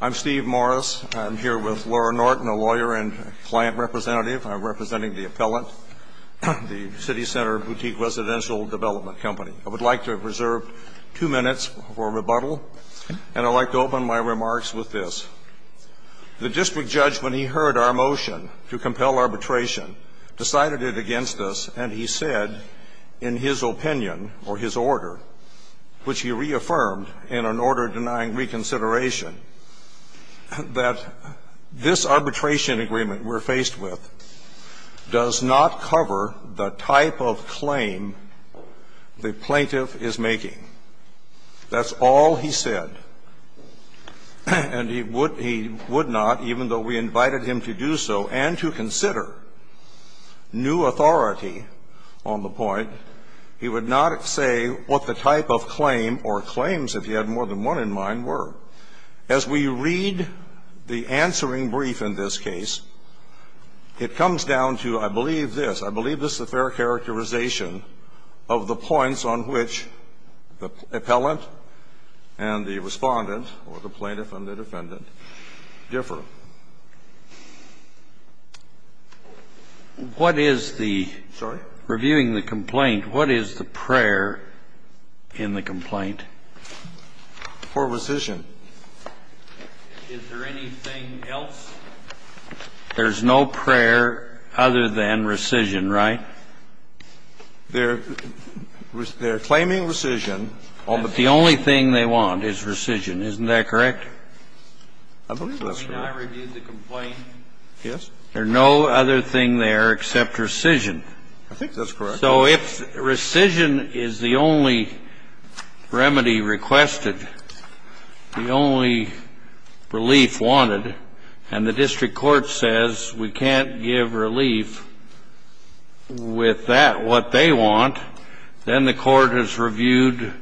I'm Steve Morris. I'm here with Laura Norton, a lawyer and client representative. I'm representing The Appellant, the CityCenter Boutique Residential Development Company. I would like to reserve two minutes for rebuttal, and I'd like to open my remarks with this. The district judge, when he heard our motion to compel arbitration, decided it against us, and he said, in his opinion or his order, which he reaffirmed in an order denying reconsideration, that this arbitration agreement we're faced with does not cover the type of claim the plaintiff is making. That's all he said, and he would not, even though we invited him to do so and to consider new authority on the point. He would not say what the type of claim or claims, if he had more than one in mind, were. As we read the answering brief in this case, it comes down to, I believe this. I believe this is a fair characterization of the points on which the appellant and the respondent, or the plaintiff and the defendant, differ. What is the? Sorry? Reviewing the complaint, what is the prayer in the complaint? For rescission. Is there anything else? There's no prayer other than rescission, right? They're claiming rescission. Oh, but the only thing they want is rescission. Isn't that correct? I believe that's correct. I mean, I reviewed the complaint. Yes. There's no other thing there except rescission. I think that's correct. So if rescission is the only remedy requested, the only relief wanted, and the district court says we can't give relief with that what they want, then the court has reviewed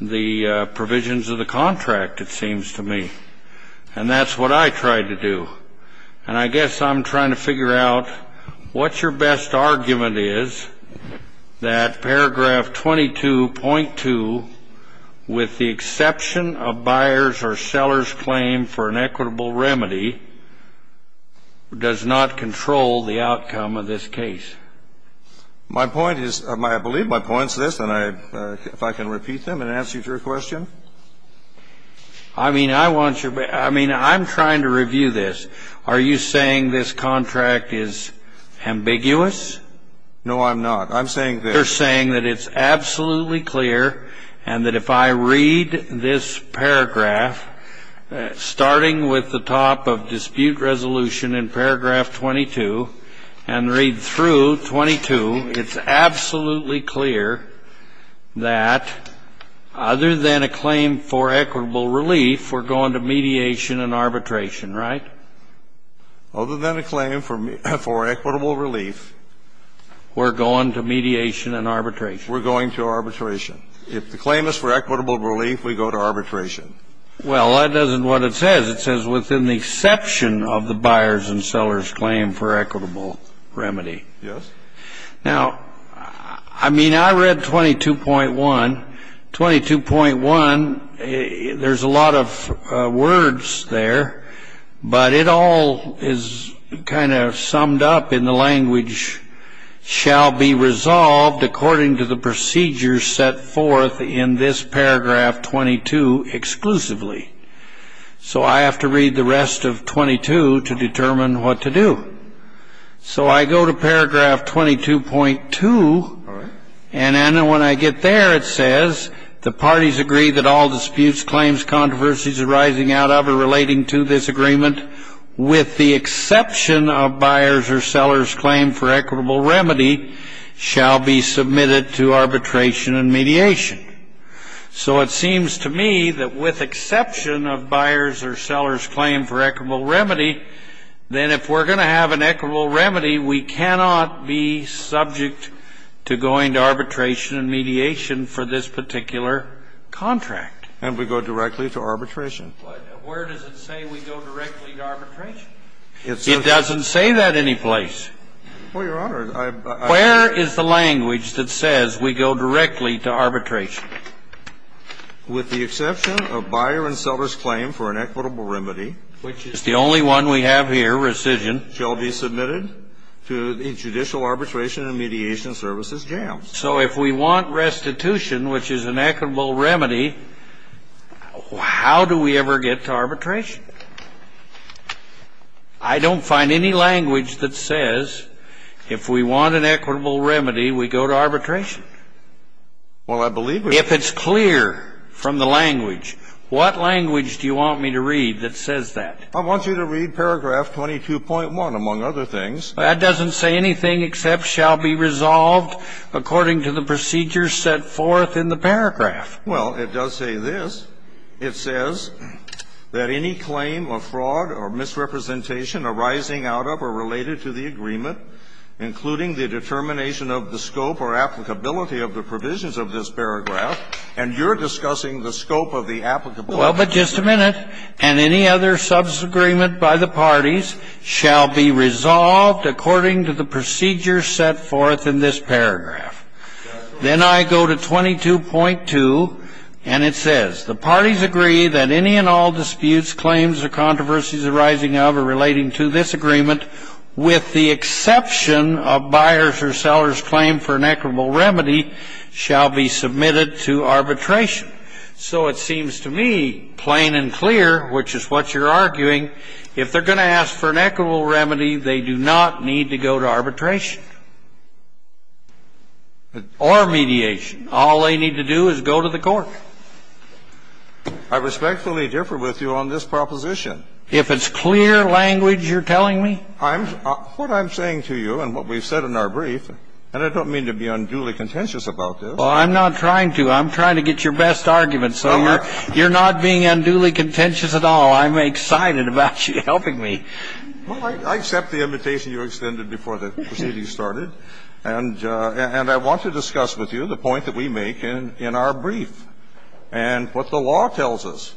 the provisions of the contract, it seems to me. And that's what I tried to do. And I guess I'm trying to figure out what your best argument is that paragraph 22.2, with the exception of buyer's or seller's claim for an equitable remedy, does not control the outcome of this case. My point is, I believe my point is this, and if I can repeat them and answer your question. I mean, I'm trying to review this. Are you saying this contract is ambiguous? No, I'm not. I'm saying this. You're saying that it's absolutely clear and that if I read this paragraph, starting with the top of dispute resolution in paragraph 22 and read through 22, it's absolutely clear that other than a claim for equitable relief, we're going to mediation and arbitration, right? Other than a claim for equitable relief. We're going to mediation and arbitration. We're going to arbitration. If the claim is for equitable relief, we go to arbitration. Well, that doesn't what it says. It says within the exception of the buyer's and seller's claim for equitable remedy. Yes. Now, I mean, I read 22.1. 22.1, there's a lot of words there, but it all is kind of summed up in the language, shall be resolved according to the procedures set forth in this paragraph 22 exclusively. So I have to read the rest of 22 to determine what to do. So I go to paragraph 22.2. All right. And then when I get there, it says the parties agree that all disputes, claims, controversies arising out of or relating to this agreement with the exception of buyers or sellers claim for equitable remedy shall be submitted to arbitration and mediation. So it seems to me that with exception of buyers or sellers claim for equitable remedy, then if we're going to have an equitable remedy, we cannot be subject to going to arbitration and mediation for this particular contract. And we go directly to arbitration. But where does it say we go directly to arbitration? It doesn't say that anyplace. Well, Your Honor, I've been. Where is the language that says we go directly to arbitration? With the exception of buyer and seller's claim for an equitable remedy. Which is the only one we have here, rescission. Shall be submitted to judicial arbitration and mediation services jams. So if we want restitution, which is an equitable remedy, how do we ever get to arbitration? I don't find any language that says if we want an equitable remedy, we go to arbitration. Well, I believe we do. If it's clear from the language, what language do you want me to read that says that? I want you to read paragraph 22.1, among other things. That doesn't say anything except shall be resolved according to the procedures set forth in the paragraph. Well, it does say this. It says that any claim of fraud or misrepresentation arising out of or related to the And you're discussing the scope of the applicable. Well, but just a minute. And any other substance agreement by the parties shall be resolved according to the procedures set forth in this paragraph. Then I go to 22.2, and it says the parties agree that any and all disputes, claims, or controversies arising out of or relating to this agreement with the exception of buyers or sellers' claim for an equitable remedy shall be submitted to arbitration. So it seems to me plain and clear, which is what you're arguing, if they're going to ask for an equitable remedy, they do not need to go to arbitration or mediation. All they need to do is go to the court. I respectfully differ with you on this proposition. If it's clear language you're telling me? What I'm saying to you and what we've said in our brief, and I don't mean to be unduly contentious about this. Well, I'm not trying to. I'm trying to get your best argument. So you're not being unduly contentious at all. I'm excited about you helping me. Well, I accept the invitation you extended before the proceeding started. And I want to discuss with you the point that we make in our brief and what the law does.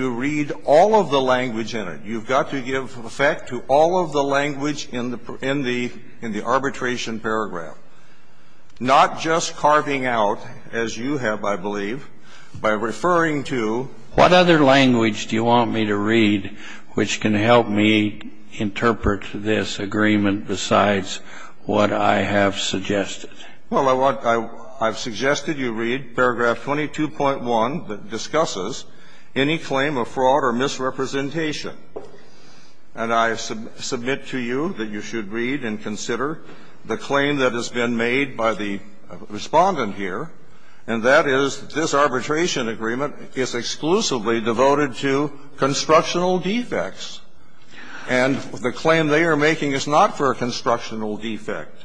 You read all of the language in it. You've got to give effect to all of the language in the arbitration paragraph, not just carving out, as you have, I believe, by referring to the language in the arbitration paragraph. What other language do you want me to read which can help me interpret this agreement besides what I have suggested? Well, I want to – I've suggested you read paragraph 22.1 that discusses any claim of fraud or misrepresentation. And I submit to you that you should read and consider the claim that has been made by the Respondent here, and that is this arbitration agreement is exclusively devoted to constructional defects. And the claim they are making is not for a constructional defect.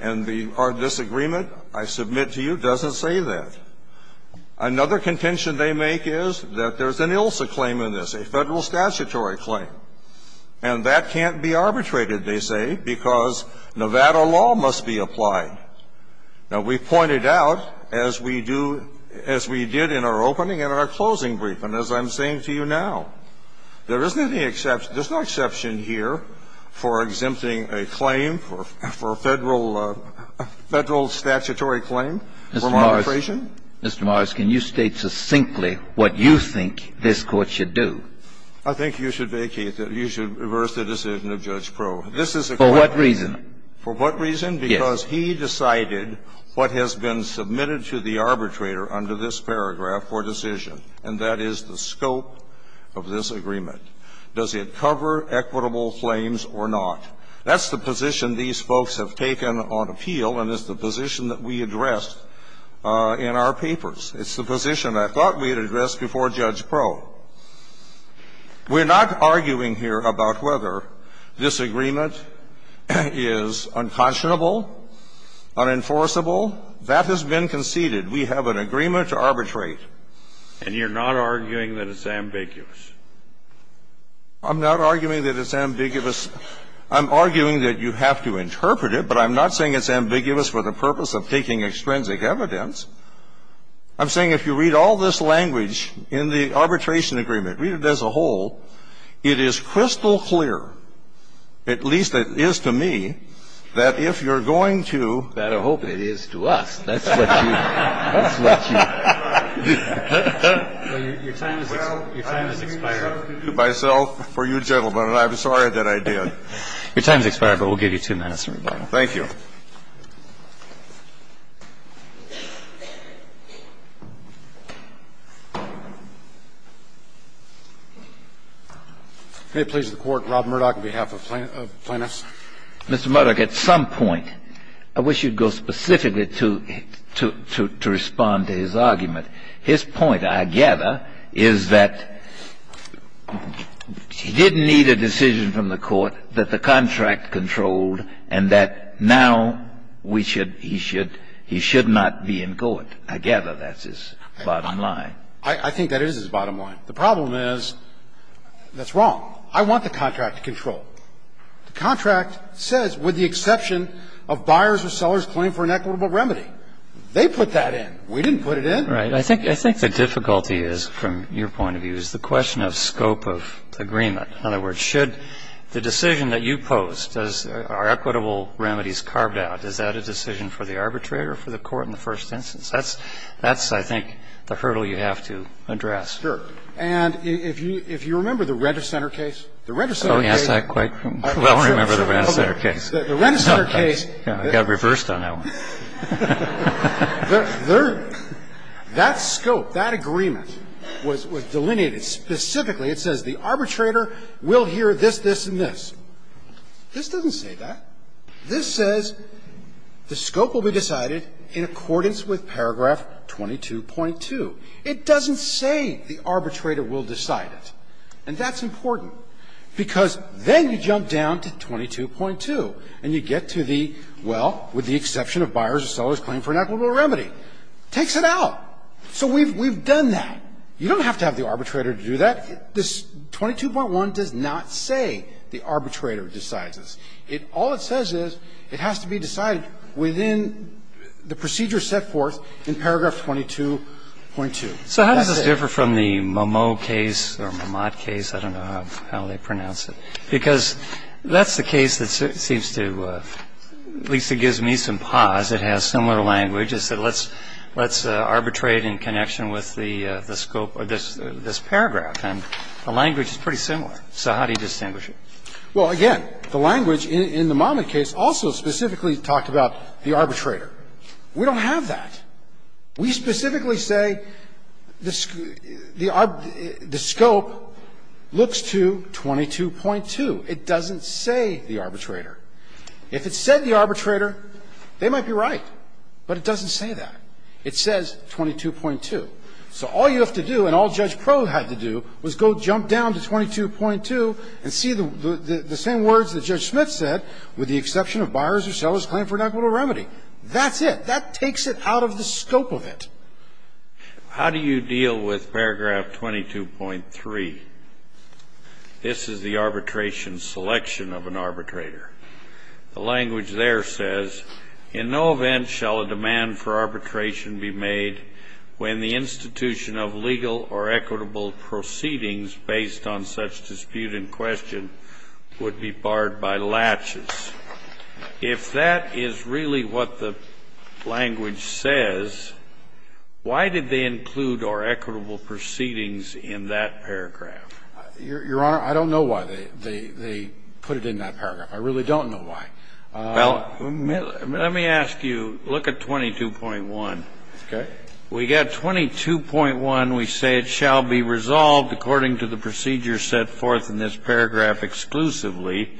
And our disagreement, I submit to you, doesn't say that. Another contention they make is that there's an ILSA claim in this, a Federal statutory claim. And that can't be arbitrated, they say, because Nevada law must be applied. Now, we pointed out, as we do – as we did in our opening and our closing brief and as I'm saying to you now, there isn't any exception – there's no exception here for exempting a claim for a Federal statutory claim for arbitration. Mr. Morris, can you state succinctly what you think this Court should do? I think you should vacate that. You should reverse the decision of Judge Proulx. For what reason? For what reason? Because he decided what has been submitted to the arbitrator under this paragraph for decision, and that is the scope of this agreement. Does it cover equitable claims or not? That's the position these folks have taken on appeal, and it's the position that we addressed in our papers. It's the position I thought we had addressed before Judge Proulx. We're not arguing here about whether this agreement is unconscionable, unenforceable. That has been conceded. We have an agreement to arbitrate. And you're not arguing that it's ambiguous? I'm not arguing that it's ambiguous. I'm arguing that you have to interpret it. But I'm not saying it's ambiguous for the purpose of taking extrinsic evidence. I'm saying if you read all this language in the arbitration agreement, read it as a whole, it is crystal clear, at least it is to me, that if you're going to – Better hope it is to us. That's what you – that's what you – Well, your time has expired. Well, I'm here to do myself for you gentlemen, and I'm sorry that I did. Your time has expired, but we'll give you two minutes for rebuttal. Thank you. May it please the Court. Rob Murdoch on behalf of plaintiffs. Mr. Murdoch, at some point, I wish you'd go specifically to respond to his argument. His point, I gather, is that he didn't need a decision from the Court that the contract controlled and that now we should – he should – he should not be in court. I gather that's his bottom line. I think that is his bottom line. The problem is that's wrong. I want the contract to control. The contract says, with the exception of buyers or sellers claim for an equitable remedy. They put that in. We didn't put it in. Right. I think the difficulty is, from your point of view, is the question of scope of agreement. In other words, should the decision that you pose, does – are equitable remedies carved out? Is that a decision for the arbitrator or for the Court in the first instance? That's, I think, the hurdle you have to address. Sure. And if you remember the Rent-A-Center case, the Rent-A-Center case – Oh, yes. I quite well remember the Rent-A-Center case. The Rent-A-Center case – I got reversed on that one. That scope, that agreement, was delineated specifically. It says the arbitrator will hear this, this, and this. This doesn't say that. This says the scope will be decided in accordance with paragraph 22.2. It doesn't say the arbitrator will decide it. And that's important, because then you jump down to 22.2, and you get to the, well, with the exception of buyers or sellers claiming for an equitable remedy. Takes it out. So we've done that. You don't have to have the arbitrator to do that. This 22.1 does not say the arbitrator decides this. It – all it says is it has to be decided within the procedure set forth in paragraph 22.2. So how does this differ from the Momot case or Momot case? I don't know how they pronounce it. Because that's the case that seems to – at least it gives me some pause. It has similar language. It said let's arbitrate in connection with the scope of this paragraph. And the language is pretty similar. So how do you distinguish it? Well, again, the language in the Momot case also specifically talked about the arbitrator. We don't have that. We specifically say the scope looks to 22.2. It doesn't say the arbitrator. If it said the arbitrator, they might be right, but it doesn't say that. It says 22.2. So all you have to do, and all Judge Proh had to do, was go jump down to 22.2 and see the same words that Judge Smith said, with the exception of buyers or sellers claiming for an equitable remedy. That's it. That takes it out of the scope of it. How do you deal with paragraph 22.3? This is the arbitration selection of an arbitrator. The language there says, In no event shall a demand for arbitration be made when the institution of legal or equitable proceedings based on such dispute in question would be barred by latches. If that is really what the language says, why did they include or equitable proceedings in that paragraph? Your Honor, I don't know why they put it in that paragraph. I really don't know why. Well, let me ask you, look at 22.1. Okay. We got 22.1. We say it shall be resolved according to the procedure set forth in this paragraph exclusively.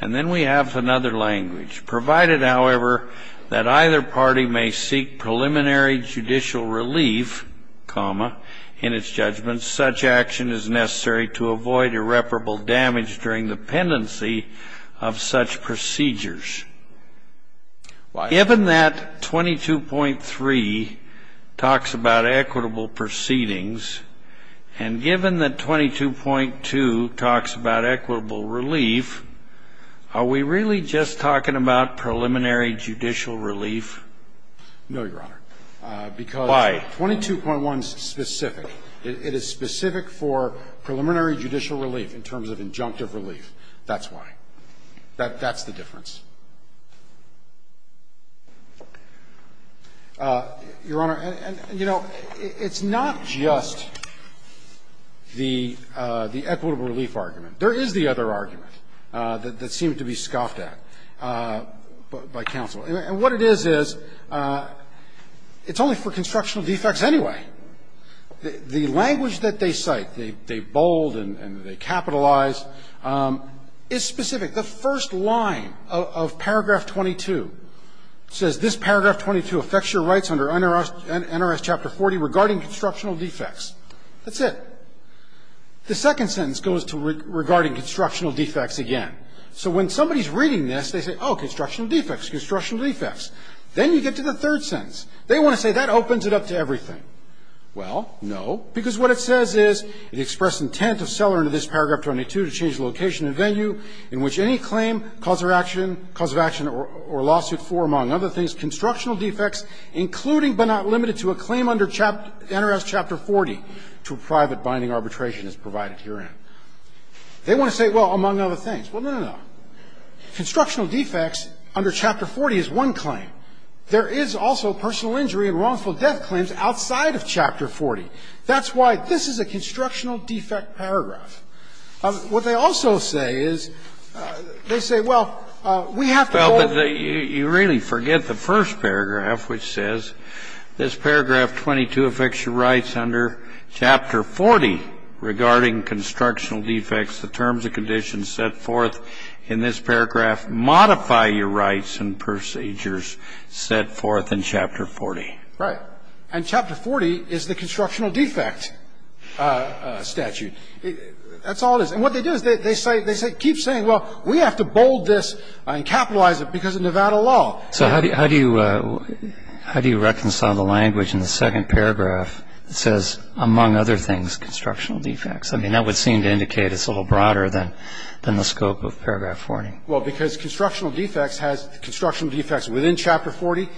And then we have another language. Provided, however, that either party may seek preliminary judicial relief, comma, in its judgment, such action is necessary to avoid irreparable damage during the pendency of such procedures. Given that 22.3 talks about equitable proceedings, and given that 22.2 talks about equitable relief, are we really just talking about preliminary judicial relief? No, Your Honor. Why? Because 22.1 is specific. It is specific for preliminary judicial relief in terms of injunctive relief. That's why. That's the difference. Your Honor, you know, it's not just the equitable relief argument. There is the other argument that seemed to be scoffed at by counsel. And what it is, is it's only for constructional defects anyway. The language that they cite, they bold and they capitalize, is specific. The first line of paragraph 22 says, this paragraph 22 affects your rights under NRS chapter 40 regarding constructional defects. That's it. The second sentence goes to regarding constructional defects again. So when somebody is reading this, they say, oh, constructional defects, constructional defects. Then you get to the third sentence. They want to say that opens it up to everything. Well, no, because what it says is, it expressed intent of seller under this paragraph 22 to change location and venue in which any claim, cause of action, cause of action or lawsuit for, among other things, constructional defects, including but not limited to a claim under NRS chapter 40 to a private binding arbitration as provided herein. They want to say, well, among other things. Well, no, no, no. Constructional defects under chapter 40 is one claim. There is also personal injury and wrongful death claims outside of chapter 40. That's why this is a constructional defect paragraph. What they also say is, they say, well, we have to go over. Well, but you really forget the first paragraph, which says this paragraph 22 affects your rights under chapter 40 regarding constructional defects. The terms and conditions set forth in this paragraph modify your rights and procedures set forth in chapter 40. Right. And chapter 40 is the constructional defect statute. That's all it is. And what they do is they say, they keep saying, well, we have to bold this and capitalize it because of Nevada law. So how do you reconcile the language in the second paragraph that says, among other things, constructional defects? I mean, that would seem to indicate it's a little broader than the scope of paragraph 40. Well, because constructional defects has constructional defects within chapter 40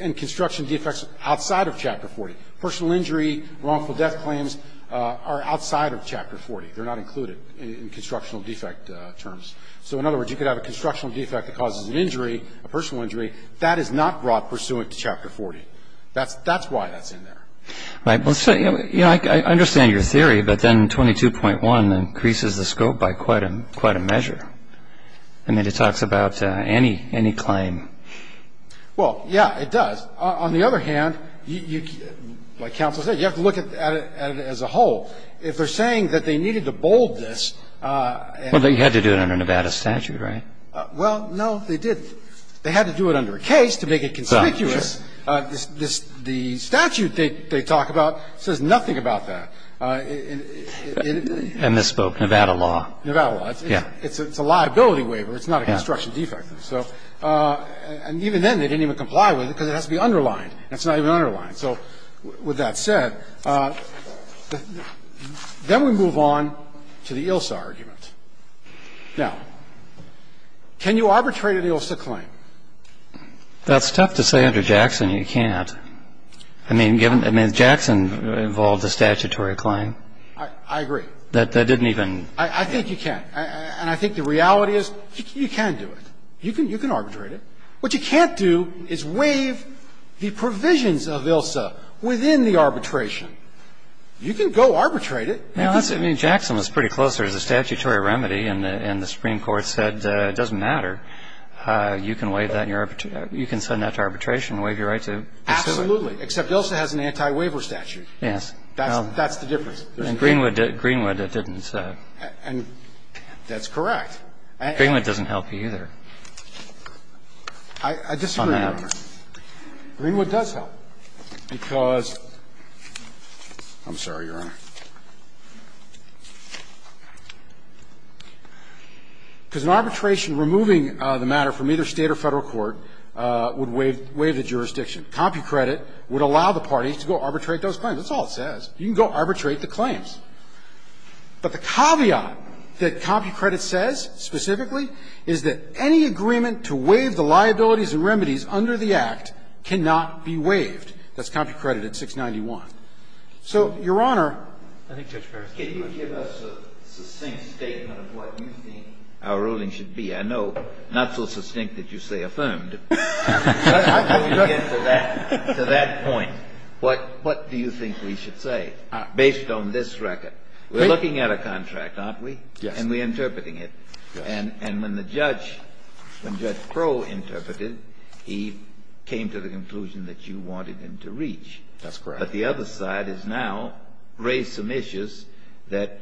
and construction defects outside of chapter 40. Personal injury, wrongful death claims are outside of chapter 40. They're not included in constructional defect terms. So in other words, you could have a constructional defect that causes an injury, a personal injury. That is not broad pursuant to chapter 40. That's why that's in there. All right. Well, I understand your theory, but then 22.1 increases the scope by quite a measure. I mean, it talks about any claim. Well, yeah, it does. But on the other hand, like counsel said, you have to look at it as a whole. If they're saying that they needed to bold this and they had to do it under Nevada statute, right? Well, no, they didn't. They had to do it under a case to make it conspicuous. The statute they talk about says nothing about that. I misspoke. Nevada law. Nevada law. Yeah. It's a liability waiver. It's not a construction defect. So it's not a construction defect. It's a property defect. And so even then, they didn't even comply with it because it has to be underlined. It's not even underlined. So with that said, then we move on to the ILSA argument. Now, can you arbitrate an ILSA claim? That's tough to say under Jackson you can't. I mean, given, I mean, Jackson involved a statutory claim. I agree. That didn't even. I think you can. And I think the reality is you can do it. You can arbitrate it. What you can't do is waive the provisions of ILSA within the arbitration. You can go arbitrate it. I mean, Jackson was pretty close. There's a statutory remedy, and the Supreme Court said it doesn't matter. You can waive that in your, you can send that to arbitration and waive your right to pursue it. Absolutely, except ILSA has an anti-waiver statute. Yes. That's the difference. And Greenwood didn't. And that's correct. Greenwood doesn't help you either. I disagree, Your Honor. Greenwood does help because – I'm sorry, Your Honor. Because in arbitration, removing the matter from either State or Federal court would allow the parties to go arbitrate those claims. That's all it says. You can go arbitrate the claims. But the caveat that CompuCredit says specifically is that any agreement to waive the liabilities and remedies under the Act cannot be waived. That's CompuCredit at 691. So, Your Honor – Can you give us a succinct statement of what you think our ruling should be? I know, not so succinct that you say affirmed. To that point, what do you think we should say based on this record? We're looking at a contract, aren't we? Yes. And we're interpreting it. And when the judge – when Judge Proh interpreted, he came to the conclusion that you wanted him to reach. That's correct. But the other side has now raised some issues that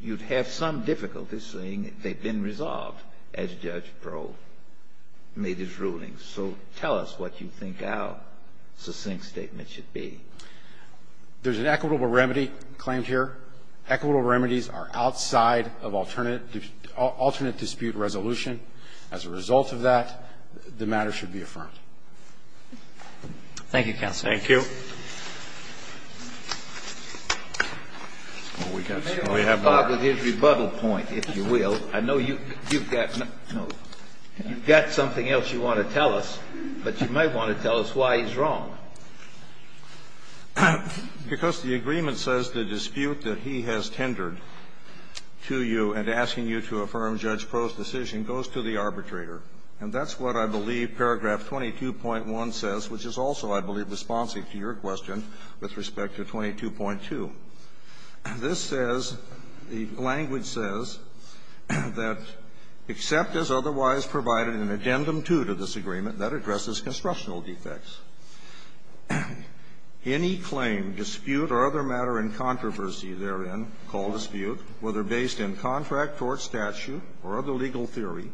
you'd have some difficulty seeing. They've been resolved as Judge Proh made his ruling. So, tell us what you think our succinct statement should be. There's an equitable remedy claimed here. Equitable remedies are outside of alternate dispute resolution. As a result of that, the matter should be affirmed. Thank you, counsel. Thank you. We have more. I know you've got something else you want to tell us, but you might want to tell us why he's wrong. Because the agreement says the dispute that he has tendered to you and asking you to affirm Judge Proh's decision goes to the arbitrator. And that's what I believe paragraph 22.1 says, which is also, I believe, responsive to your question with respect to 22.2. This says, the language says that, except as otherwise provided an addendum 2 to this agreement that addresses constructional defects, any claim, dispute, or other matter in controversy therein called dispute, whether based in contract, tort statute, or other legal theory,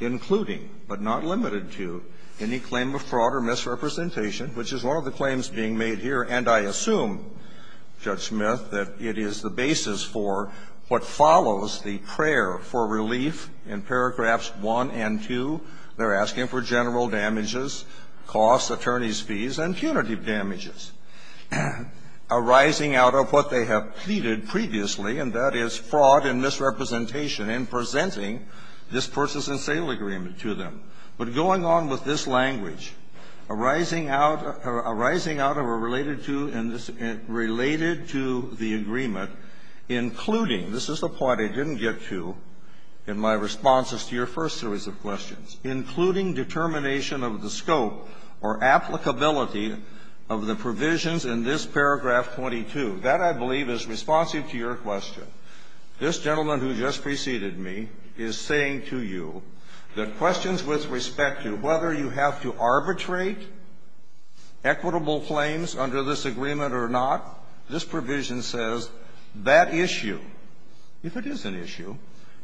including, but not limited to, any claim of fraud or misrepresentation which is one of the claims being made here, and I assume, Judge Smith, that it is the basis for what follows the prayer for relief in paragraphs 1 and 2. They're asking for general damages, costs, attorney's fees, and punitive damages arising out of what they have pleaded previously, and that is fraud and misrepresentation in presenting this purchase and sale agreement to them. But going on with this language, arising out of a related to in this related to the agreement, including, this is the part I didn't get to in my responses to your first series of questions, including determination of the scope or applicability of the provisions in this paragraph 22. That, I believe, is responsive to your question. This gentleman who just preceded me is saying to you that questions with respect to whether you have to arbitrate equitable claims under this agreement or not, this provision says that issue, if it is an issue,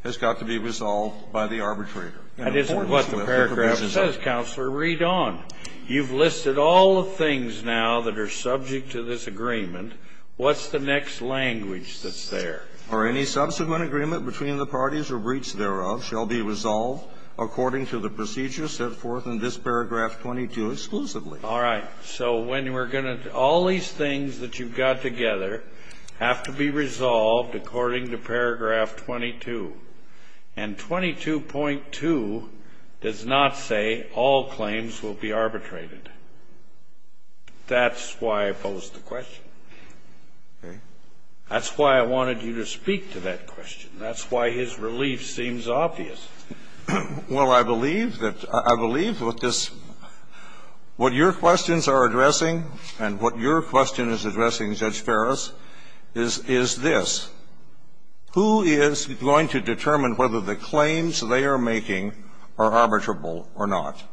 has got to be resolved by the arbitrator. And in accordance with the provisions of the agreement. That isn't what the paragraph says, Counselor. Read on. You've listed all the things now that are subject to this agreement. What's the next language that's there? Or any subsequent agreement between the parties or breach thereof shall be resolved according to the procedure set forth in this paragraph 22 exclusively. All right. So when we're going to do all these things that you've got together have to be resolved according to paragraph 22, and 22.2 does not say all claims will be arbitrated. That's why I posed the question. Okay. That's why I wanted you to speak to that question. That's why his relief seems obvious. Well, I believe that what this what your questions are addressing and what your question is addressing, Judge Ferris, is this. Who is going to determine whether the claims they are making are arbitrable or not?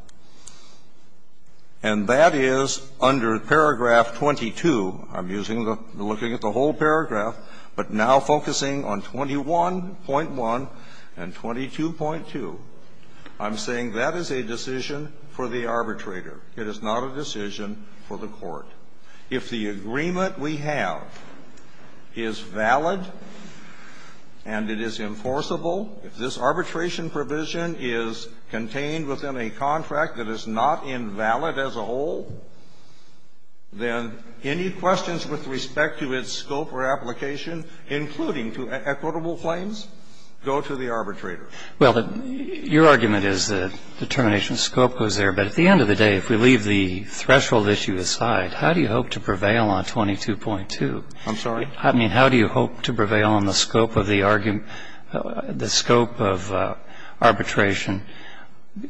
And that is under paragraph 22. I'm using the looking at the whole paragraph, but now focusing on 21.1 and 22.2. I'm saying that is a decision for the arbitrator. It is not a decision for the court. If the agreement we have is valid and it is enforceable, if this arbitration provision is contained within a contract that is not invalid as a whole, then any questions with respect to its scope or application, including to equitable claims, go to the arbitrator. Well, your argument is that determination of scope goes there. But at the end of the day, if we leave the threshold issue aside, how do you hope to prevail on 22.2? I'm sorry? I mean, how do you hope to prevail on the scope of the argument, the scope of arbitration,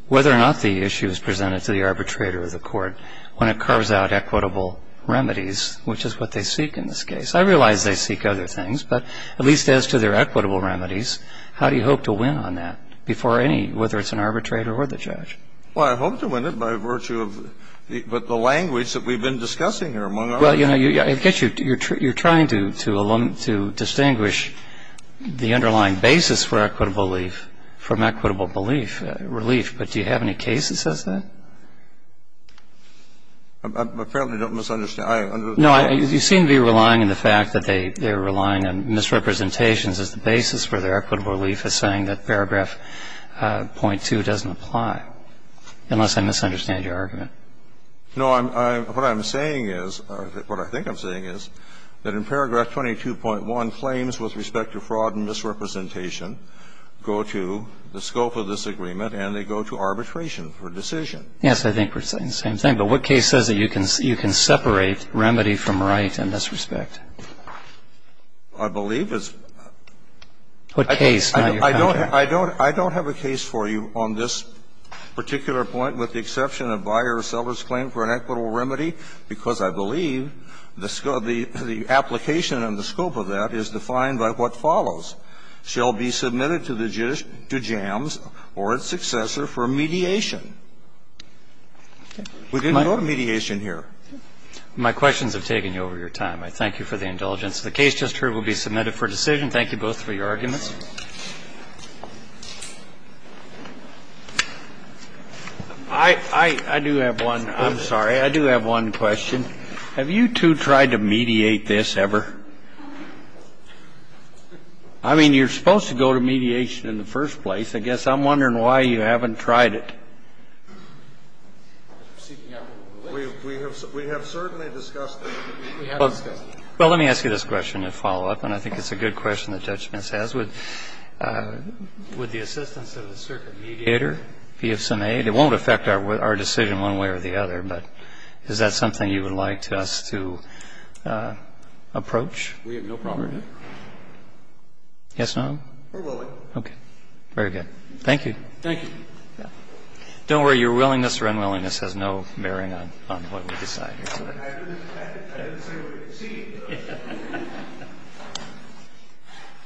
whether or not the issue is presented to the arbitrator or the court, when it carves out equitable remedies, which is what they seek in this case? I realize they seek other things, but at least as to their equitable remedies, how do you hope to win on that before any, whether it's an arbitrator or the judge? Well, I hope to win it by virtue of the language that we've been discussing here among others. Well, you know, I get you. You're trying to distinguish the underlying basis for equitable relief from equitable belief, relief. But do you have any case that says that? I apparently don't misunderstand. No, you seem to be relying on the fact that they're relying on misrepresentations as the basis for their equitable relief as saying that paragraph .2 doesn't apply, unless I misunderstand your argument. No. What I'm saying is, or what I think I'm saying is, that in paragraph 22.1, claims with respect to fraud and misrepresentation go to the scope of this agreement and they go to arbitration for decision. Yes, I think we're saying the same thing. But what case says that you can separate remedy from right in this respect? I believe it's the case. I don't have a case for you on this particular point, with the exception of buyer or seller's claim for an equitable remedy, because I believe the scope of the application and the scope of that is defined by what follows, shall be submitted to JAMS or its successor for mediation. We didn't go to mediation here. My questions have taken you over your time. I thank you for the indulgence. The case just heard will be submitted for decision. Thank you both for your arguments. I do have one. I'm sorry. I do have one question. Have you two tried to mediate this ever? I mean, you're supposed to go to mediation in the first place. I guess I'm wondering why you haven't tried it. We have certainly discussed it. We have discussed it. Well, let me ask you this question to follow up, and I think it's a good question that Judge Mintz has. Would the assistance of a circuit mediator be of some aid? It won't affect our decision one way or the other, but is that something you would like us to approach? We have no problem with it. Yes, no? We're willing. Okay. Very good. Thank you. Thank you. Don't worry. Your willingness or unwillingness has no bearing on what we decide. I didn't say what it seemed.